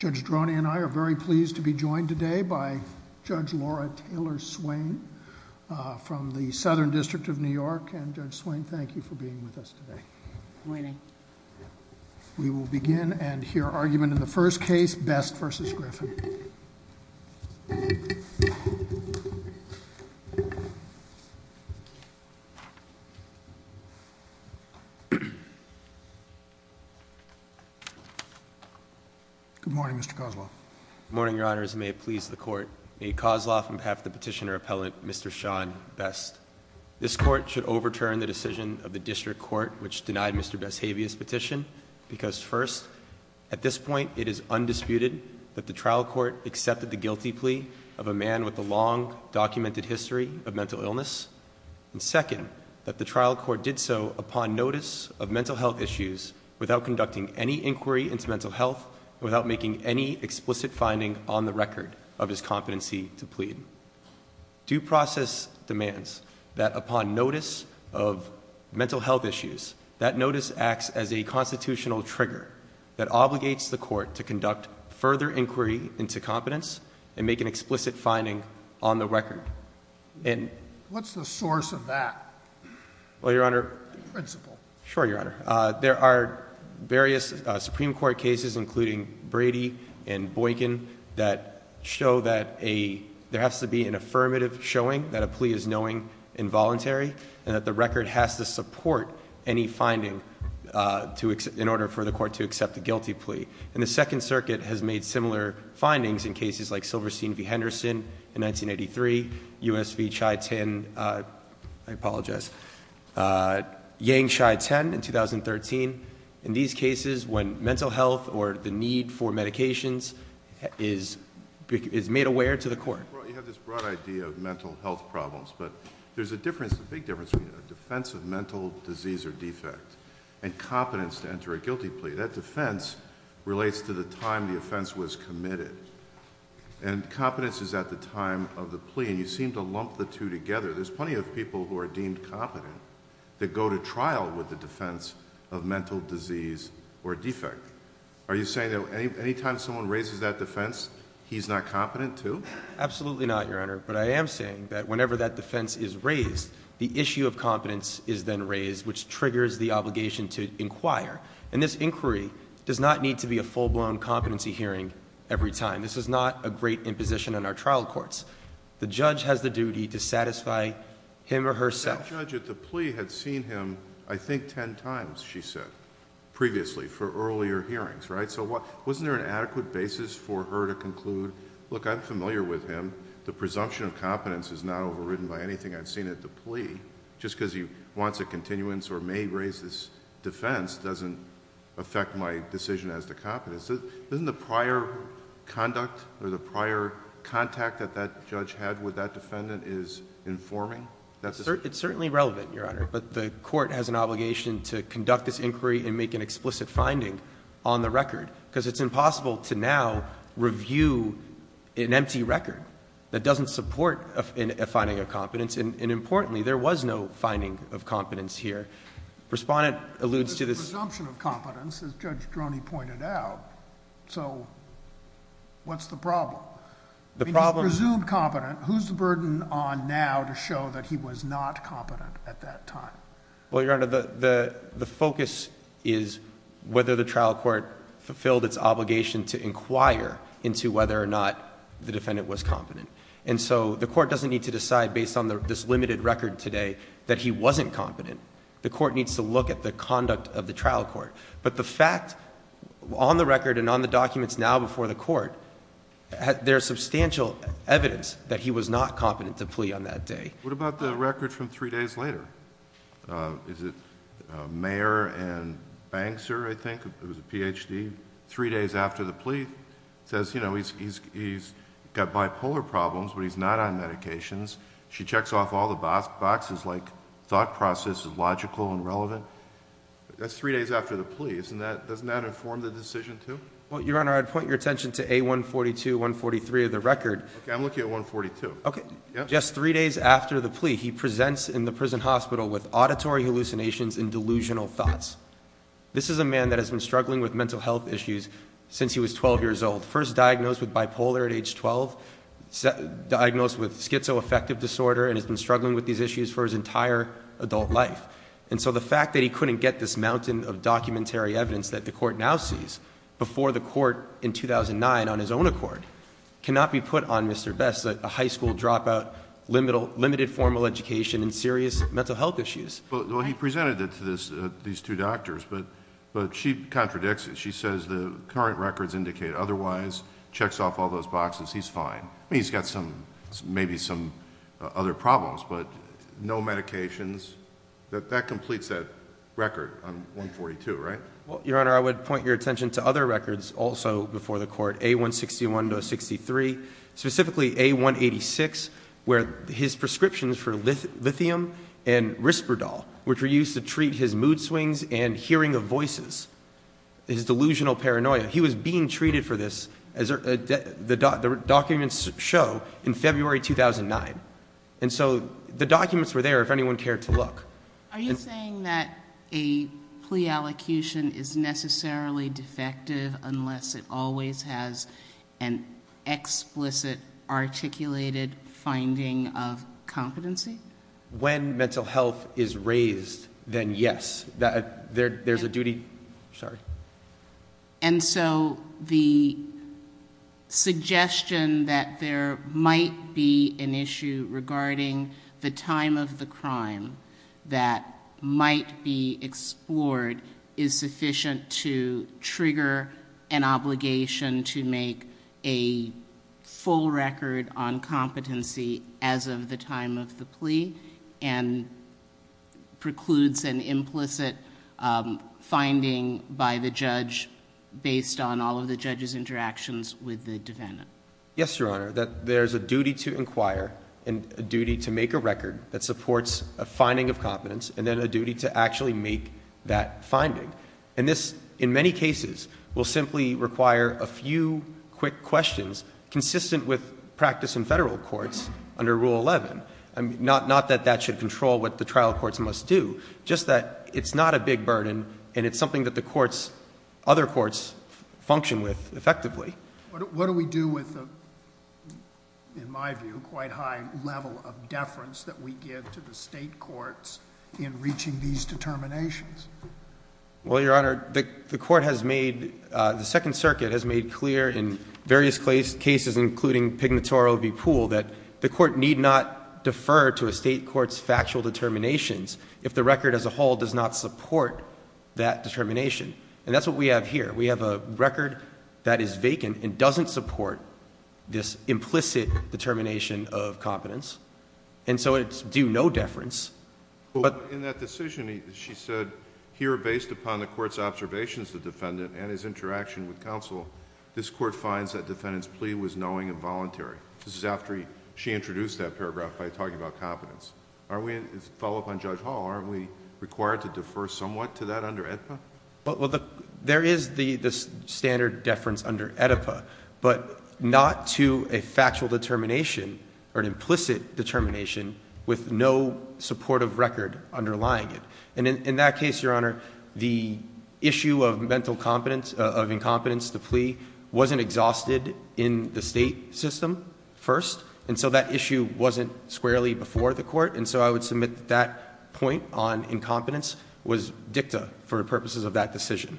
Judge Droney and I are very pleased to be joined today by Judge Laura Taylor Swain from the Southern District of New York. And Judge Swain, thank you for being with us today. Good morning. We will begin and hear argument in the first case, Best v. Griffin. Good morning, Mr. Kozloff. Good morning, your honors, and may it please the court. May Kozloff, on behalf of the petitioner appellant, Mr. Sean Best. This court should overturn the decision of the district court, which denied Mr. Best's habeas petition. Because first, at this point, it is undisputed that the trial court accepted the guilty plea of a man with a long documented history of mental illness. And second, that the trial court did so upon notice of mental health issues without conducting any inquiry into mental health, without making any explicit finding on the record of his competency to plead. Due process demands that upon notice of mental health issues, that notice acts as a constitutional trigger that obligates the court to conduct further inquiry into competence and make an explicit finding on the record. And- What's the source of that? Well, your honor. Principle. Sure, your honor. There are various Supreme Court cases, including Brady and Boykin, that show that there has to be an affirmative showing that a plea is knowing involuntary. And that the record has to support any finding in order for the court to accept a guilty plea. And the Second Circuit has made similar findings in cases like Silverstein v. Henderson in 1983, US v. Chai Tin, I apologize, Yang Chai Tin in 2013. In these cases, when mental health or the need for medications is made aware to the court. You have this broad idea of mental health problems, but there's a difference, a big difference between a defense of mental disease or defect and competence to enter a guilty plea. That defense relates to the time the offense was committed. And competence is at the time of the plea, and you seem to lump the two together. There's plenty of people who are deemed competent that go to trial with the defense of mental disease or defect. Are you saying that anytime someone raises that defense, he's not competent too? Absolutely not, Your Honor. But I am saying that whenever that defense is raised, the issue of competence is then raised, which triggers the obligation to inquire. And this inquiry does not need to be a full-blown competency hearing every time. This is not a great imposition in our trial courts. The judge has the duty to satisfy him or herself. But that judge at the plea had seen him, I think, ten times, she said, previously for earlier hearings, right? So wasn't there an adequate basis for her to conclude? Look, I'm familiar with him. The presumption of competence is not overridden by anything I've seen at the plea. Just because he wants a continuance or may raise this defense doesn't affect my decision as to competence. Isn't the prior conduct or the prior contact that that judge had with that defendant is informing? It's certainly relevant, Your Honor, but the court has an obligation to conduct this inquiry and make an explicit finding on the record. Because it's impossible to now review an empty record that doesn't support a finding of competence. And importantly, there was no finding of competence here. Respondent alludes to this- Presumption of competence, as Judge Droney pointed out. So what's the problem? The problem- Presumed competent, who's the burden on now to show that he was not competent at that time? Well, Your Honor, the focus is whether the trial court fulfilled its obligation to inquire into whether or not the defendant was competent. And so the court doesn't need to decide based on this limited record today that he wasn't competent. The court needs to look at the conduct of the trial court. But the fact, on the record and on the documents now before the court, there's substantial evidence that he was not competent to plea on that day. What about the record from three days later? Is it Mayer and Bankser, I think, who's a PhD, three days after the plea. Says he's got bipolar problems, but he's not on medications. She checks off all the boxes like thought process is logical and relevant. That's three days after the plea. Doesn't that inform the decision too? Well, Your Honor, I'd point your attention to A142, 143 of the record. Okay, I'm looking at 142. Okay. Just three days after the plea, he presents in the prison hospital with auditory hallucinations and delusional thoughts. This is a man that has been struggling with mental health issues since he was 12 years old. First diagnosed with bipolar at age 12, diagnosed with schizoaffective disorder, and has been struggling with these issues for his entire adult life. And so the fact that he couldn't get this mountain of documentary evidence that the court now sees before the court in 2009 on his own accord. Cannot be put on Mr. Best, a high school dropout, limited formal education, and serious mental health issues. Well, he presented it to these two doctors, but she contradicts it. She says the current records indicate otherwise, checks off all those boxes, he's fine. He's got some, maybe some other problems, but no medications. That completes that record on 142, right? Well, Your Honor, I would point your attention to other records also before the court, A161 to 63. Specifically, A186, where his prescriptions for lithium and Risperdal, which were used to treat his mood swings and hearing of voices, his delusional paranoia. He was being treated for this, as the documents show, in February 2009. And so the documents were there if anyone cared to look. Are you saying that a plea allocution is necessarily defective unless it always has an explicit, articulated finding of competency? When mental health is raised, then yes, there's a duty. Sorry. And so the suggestion that there is a duty that might be explored is sufficient to trigger an obligation to make a full record on competency as of the time of the plea. And precludes an implicit finding by the judge based on all of the judge's interactions with the defendant. Yes, Your Honor, that there's a duty to inquire and a duty to make a record that supports a finding of competence and then a duty to actually make that finding. And this, in many cases, will simply require a few quick questions consistent with practice in Federal courts under Rule 11. Not that that should control what the trial courts must do, just that it's not a big burden and it's something that the courts, other courts, function with effectively. What do we do with, in my view, quite high level of deference that we give to the state courts in reaching these determinations? Well, Your Honor, the court has made, the Second Circuit has made clear in various cases, including Pignatore v. Poole, that the court need not defer to a state court's factual determinations if the record as a whole does not support that determination. And that's what we have here. We have a record that is vacant and doesn't support this implicit determination of competence. And so it's due no deference. But- In that decision, she said, here based upon the court's observations of the defendant and his interaction with counsel, this court finds that defendant's plea was knowing and voluntary. This is after she introduced that paragraph by talking about competence. Are we, follow up on Judge Hall, are we required to defer somewhat to that under AEDPA? Well, there is the standard deference under AEDPA, but not to a factual determination or an implicit determination with no supportive record underlying it. And in that case, Your Honor, the issue of mental incompetence, the plea, wasn't exhausted in the state system first. And so that issue wasn't squarely before the court. And so I would submit that point on incompetence was dicta for purposes of that decision.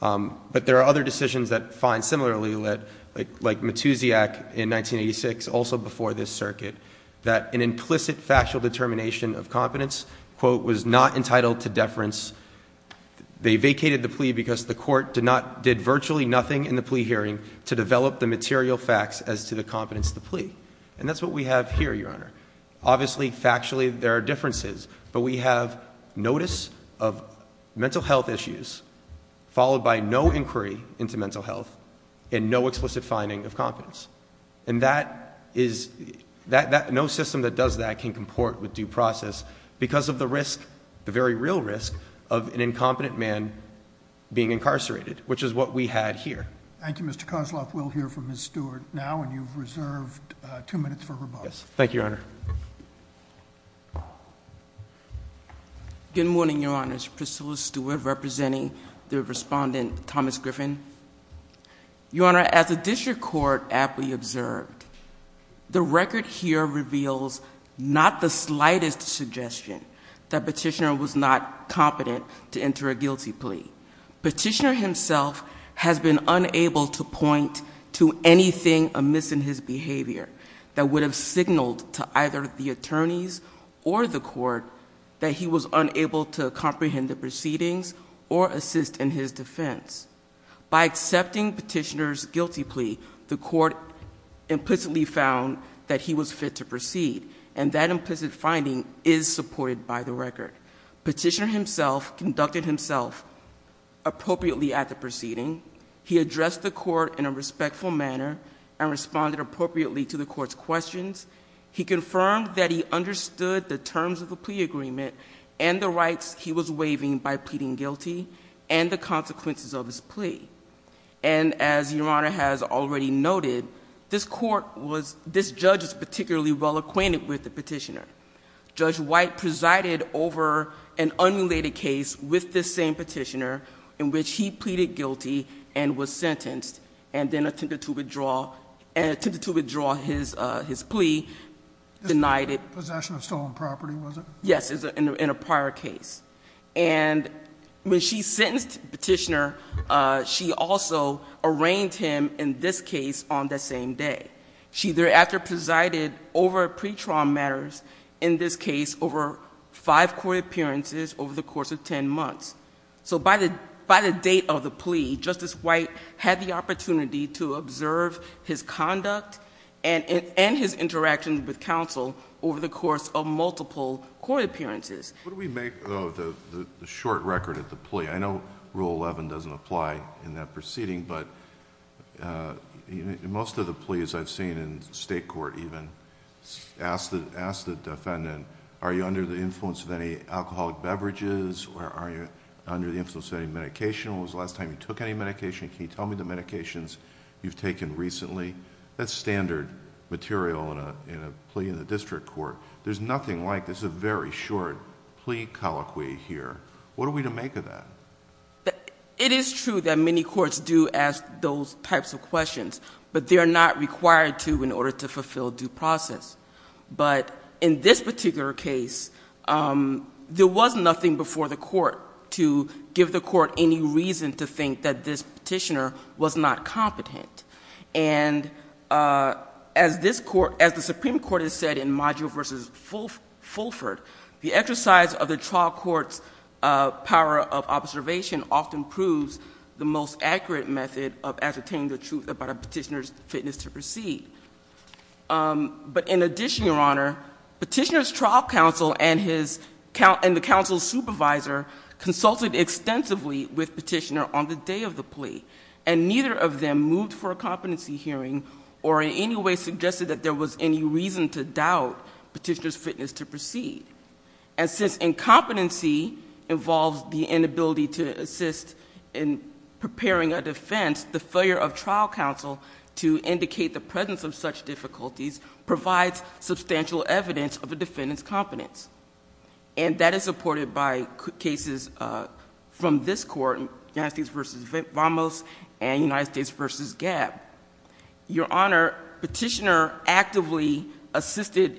But there are other decisions that find similarly, like Matusiak in 1986, also before this circuit, that an implicit factual determination of competence, quote, was not entitled to deference. They vacated the plea because the court did virtually nothing in the plea hearing to develop the material facts as to the competence of the plea. Obviously, factually, there are differences, but we have notice of mental health issues, followed by no inquiry into mental health, and no explicit finding of competence. And no system that does that can comport with due process because of the risk, the very real risk, of an incompetent man being incarcerated, which is what we had here. Thank you, Mr. Kosloff. We'll hear from Ms. Stewart now, and you've reserved two minutes for rebuttal. Thank you, Your Honor. Good morning, Your Honors. Priscilla Stewart representing the respondent, Thomas Griffin. Your Honor, as the district court aptly observed, the record here reveals not the slightest suggestion that petitioner was not competent to enter a guilty plea. Petitioner himself has been unable to point to anything amiss in his behavior that would have signaled to either the attorneys or the court that he was unable to comprehend the proceedings or assist in his defense. By accepting petitioner's guilty plea, the court implicitly found that he was fit to proceed. And that implicit finding is supported by the record. Petitioner himself conducted himself appropriately at the proceeding. He addressed the court in a respectful manner and responded appropriately to the court's questions. He confirmed that he understood the terms of the plea agreement and the rights he was waiving by pleading guilty and the consequences of his plea. And as Your Honor has already noted, this judge is particularly well acquainted with the petitioner. Judge White presided over an unrelated case with this same petitioner in which he pleaded guilty and was sentenced and then attempted to withdraw his plea, denied it. Possession of stolen property, was it? Yes, in a prior case. And when she sentenced petitioner, she also arraigned him in this case on the same day. She thereafter presided over pre-trial matters, in this case, over five court appearances over the course of ten months. So by the date of the plea, Justice White had the opportunity to observe his conduct and his interaction with counsel over the course of multiple court appearances. What do we make of the short record of the plea? I know rule 11 doesn't apply in that proceeding, but in most of the pleas I've seen in state court even, ask the defendant, are you under the influence of any alcoholic beverages, or are you under the influence of any medication? When was the last time you took any medication? Can you tell me the medications you've taken recently? That's standard material in a plea in the district court. There's nothing like this, a very short plea colloquy here. What are we to make of that? It is true that many courts do ask those types of questions, but they're not required to in order to fulfill due process. But in this particular case, there was nothing before the court to give the court any reason to think that this petitioner was not competent. And as the Supreme Court has said in Module versus Fulford, the exercise of the trial court's power of observation often proves the most accurate method of ascertaining the truth about a petitioner's fitness to proceed. But in addition, Your Honor, Petitioner's trial counsel and the counsel's supervisor consulted extensively with Petitioner on the day of the plea. And neither of them moved for a competency hearing or in any way suggested that there was any reason to doubt Petitioner's fitness to proceed. And since incompetency involves the inability to assist in preparing a defense, the failure of trial counsel to indicate the presence of such difficulties provides substantial evidence of a defendant's competence. And that is supported by cases from this court, United States versus Ramos and United States versus Gabb. Your Honor, Petitioner actively assisted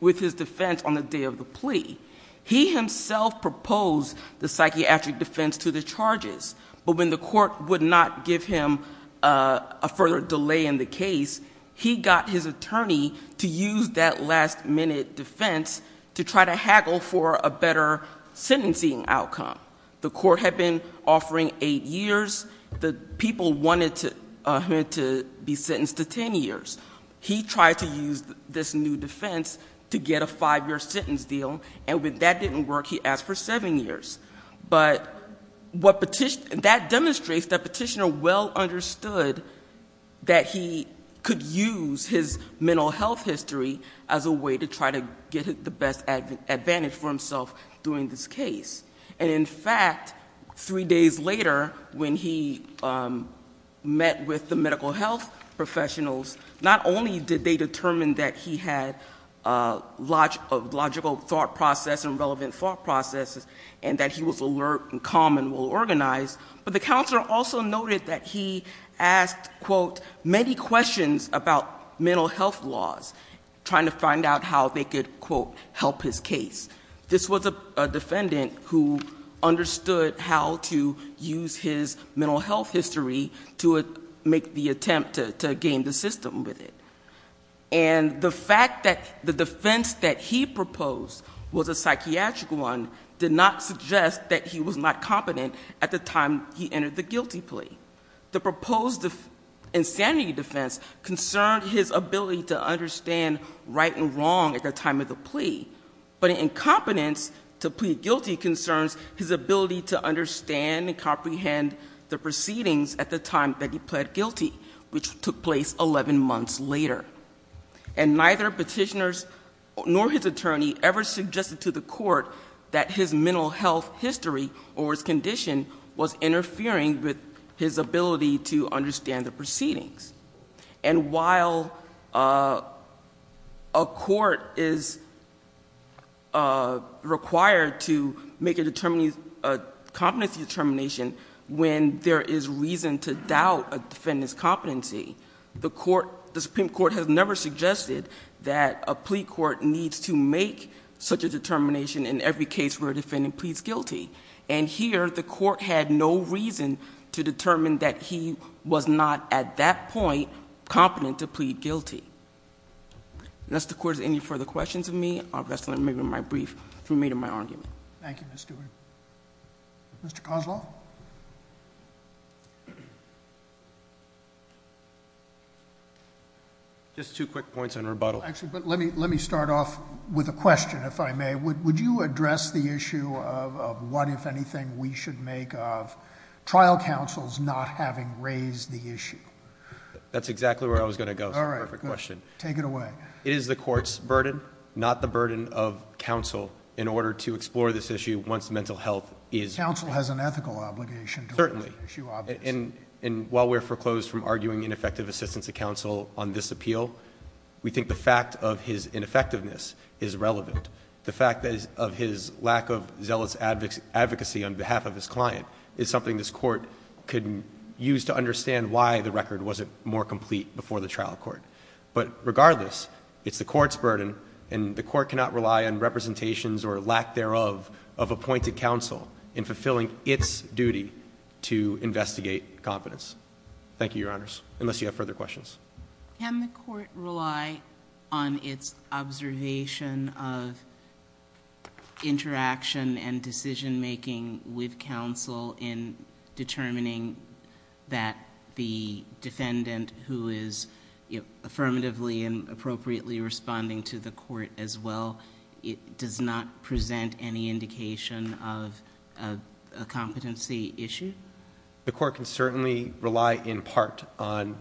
with his defense on the day of the plea. He himself proposed the psychiatric defense to the charges. But when the court would not give him a further delay in the case, he got his attorney to use that last minute defense to try to haggle for a better sentencing outcome. The court had been offering eight years. The people wanted him to be sentenced to ten years. He tried to use this new defense to get a five year sentence deal, and when that didn't work, he asked for seven years. But that demonstrates that Petitioner well understood that he could use his mental health history as a way to try to get the best advantage for himself during this case. And in fact, three days later, when he met with the medical health professionals, not only did they determine that he had a logical thought process and relevant thought processes, and that he was alert and calm and well organized, but the counselor also noted that he asked, quote, many questions about mental health laws. Trying to find out how they could, quote, help his case. This was a defendant who understood how to use his mental health history to make the attempt to game the system with it. And the fact that the defense that he proposed was a psychiatric one did not suggest that he was not competent at the time he entered the guilty plea. The proposed insanity defense concerned his ability to understand right and wrong at the time of the plea. But incompetence to plead guilty concerns his ability to understand and comprehend the proceedings at the time that he pled guilty, which took place 11 months later. And neither Petitioner's nor his attorney ever suggested to the court that his mental health history or his condition was interfering with his ability to understand the proceedings. And while a court is required to make a competency determination when there is reason to doubt a defendant's competency, the Supreme Court has never suggested that a plea court needs to make such a determination in every case where a defendant pleads guilty. And here, the court had no reason to determine that he was not at that point competent to plead guilty. Mr. Quartz, any further questions of me? I'm just going to make my brief to remain in my argument. Thank you, Ms. Stewart. Mr. Kozloff? Just two quick points in rebuttal. Actually, but let me start off with a question, if I may. Would you address the issue of what, if anything, we should make of trial counsels not having raised the issue? That's exactly where I was going to go for the perfect question. Take it away. It is the court's burden, not the burden of counsel, in order to explore this issue once mental health is- Counsel has an ethical obligation to- Certainly, and while we're foreclosed from arguing ineffective assistance to counsel on this appeal, we think the fact of his ineffectiveness is relevant. The fact of his lack of zealous advocacy on behalf of his client is something this court could use to understand why the record wasn't more complete before the trial court. But regardless, it's the court's burden, and the court cannot rely on representations or lack thereof of appointed counsel in fulfilling its duty to investigate competence. Thank you, your honors, unless you have further questions. Can the court rely on its observation of interaction and decision making with counsel in determining that the defendant who is affirmatively and appropriately responding to the court as well, it does not present any indication of a competency issue? The court can certainly rely in part on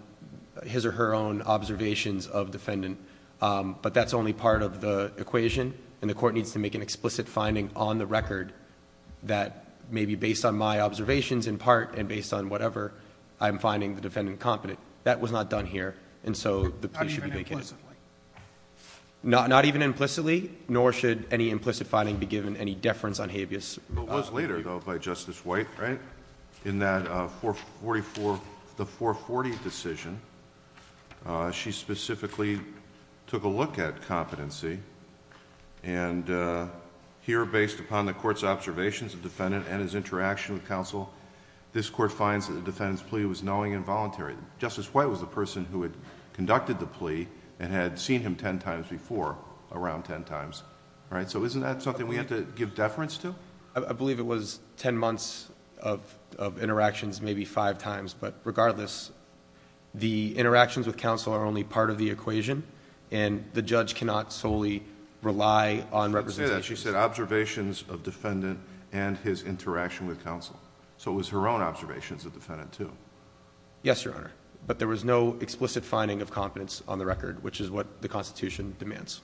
his or her own observations of defendant. But that's only part of the equation, and the court needs to make an explicit finding on the record that maybe based on my observations in part, and based on whatever, I'm finding the defendant competent. That was not done here, and so the plea should be made- Not even implicitly? Not even implicitly, nor should any implicit finding be given any deference on habeas. It was later, though, by Justice White, in that 444, the 440 decision. She specifically took a look at competency, and here based upon the court's observations of defendant and his interaction with counsel. This court finds that the defendant's plea was knowing and voluntary. Justice White was the person who had conducted the plea and had seen him ten times before, around ten times. All right, so isn't that something we have to give deference to? I believe it was ten months of interactions, maybe five times. But regardless, the interactions with counsel are only part of the equation, and the judge cannot solely rely on representation. She said observations of defendant and his interaction with counsel. So it was her own observations of defendant, too. Yes, Your Honor. But there was no explicit finding of competence on the record, which is what the Constitution demands.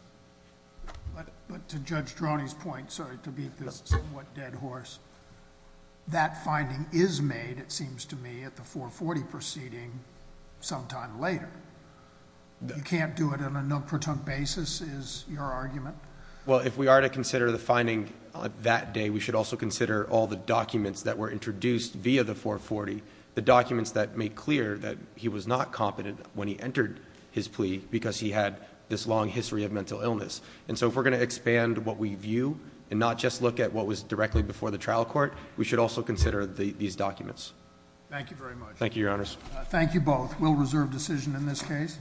But to Judge Droney's point, sorry to beat this somewhat dead horse, that finding is made, it seems to me, at the 440 proceeding sometime later. You can't do it on a no-pretunk basis, is your argument? Well, if we are to consider the finding that day, we should also consider all the documents that were introduced via the 440. The documents that make clear that he was not competent when he entered his plea, because he had this long history of mental illness. And so if we're going to expand what we view, and not just look at what was directly before the trial court, we should also consider these documents. Thank you very much. Thank you, Your Honors. Thank you both. We'll reserve decision in this case.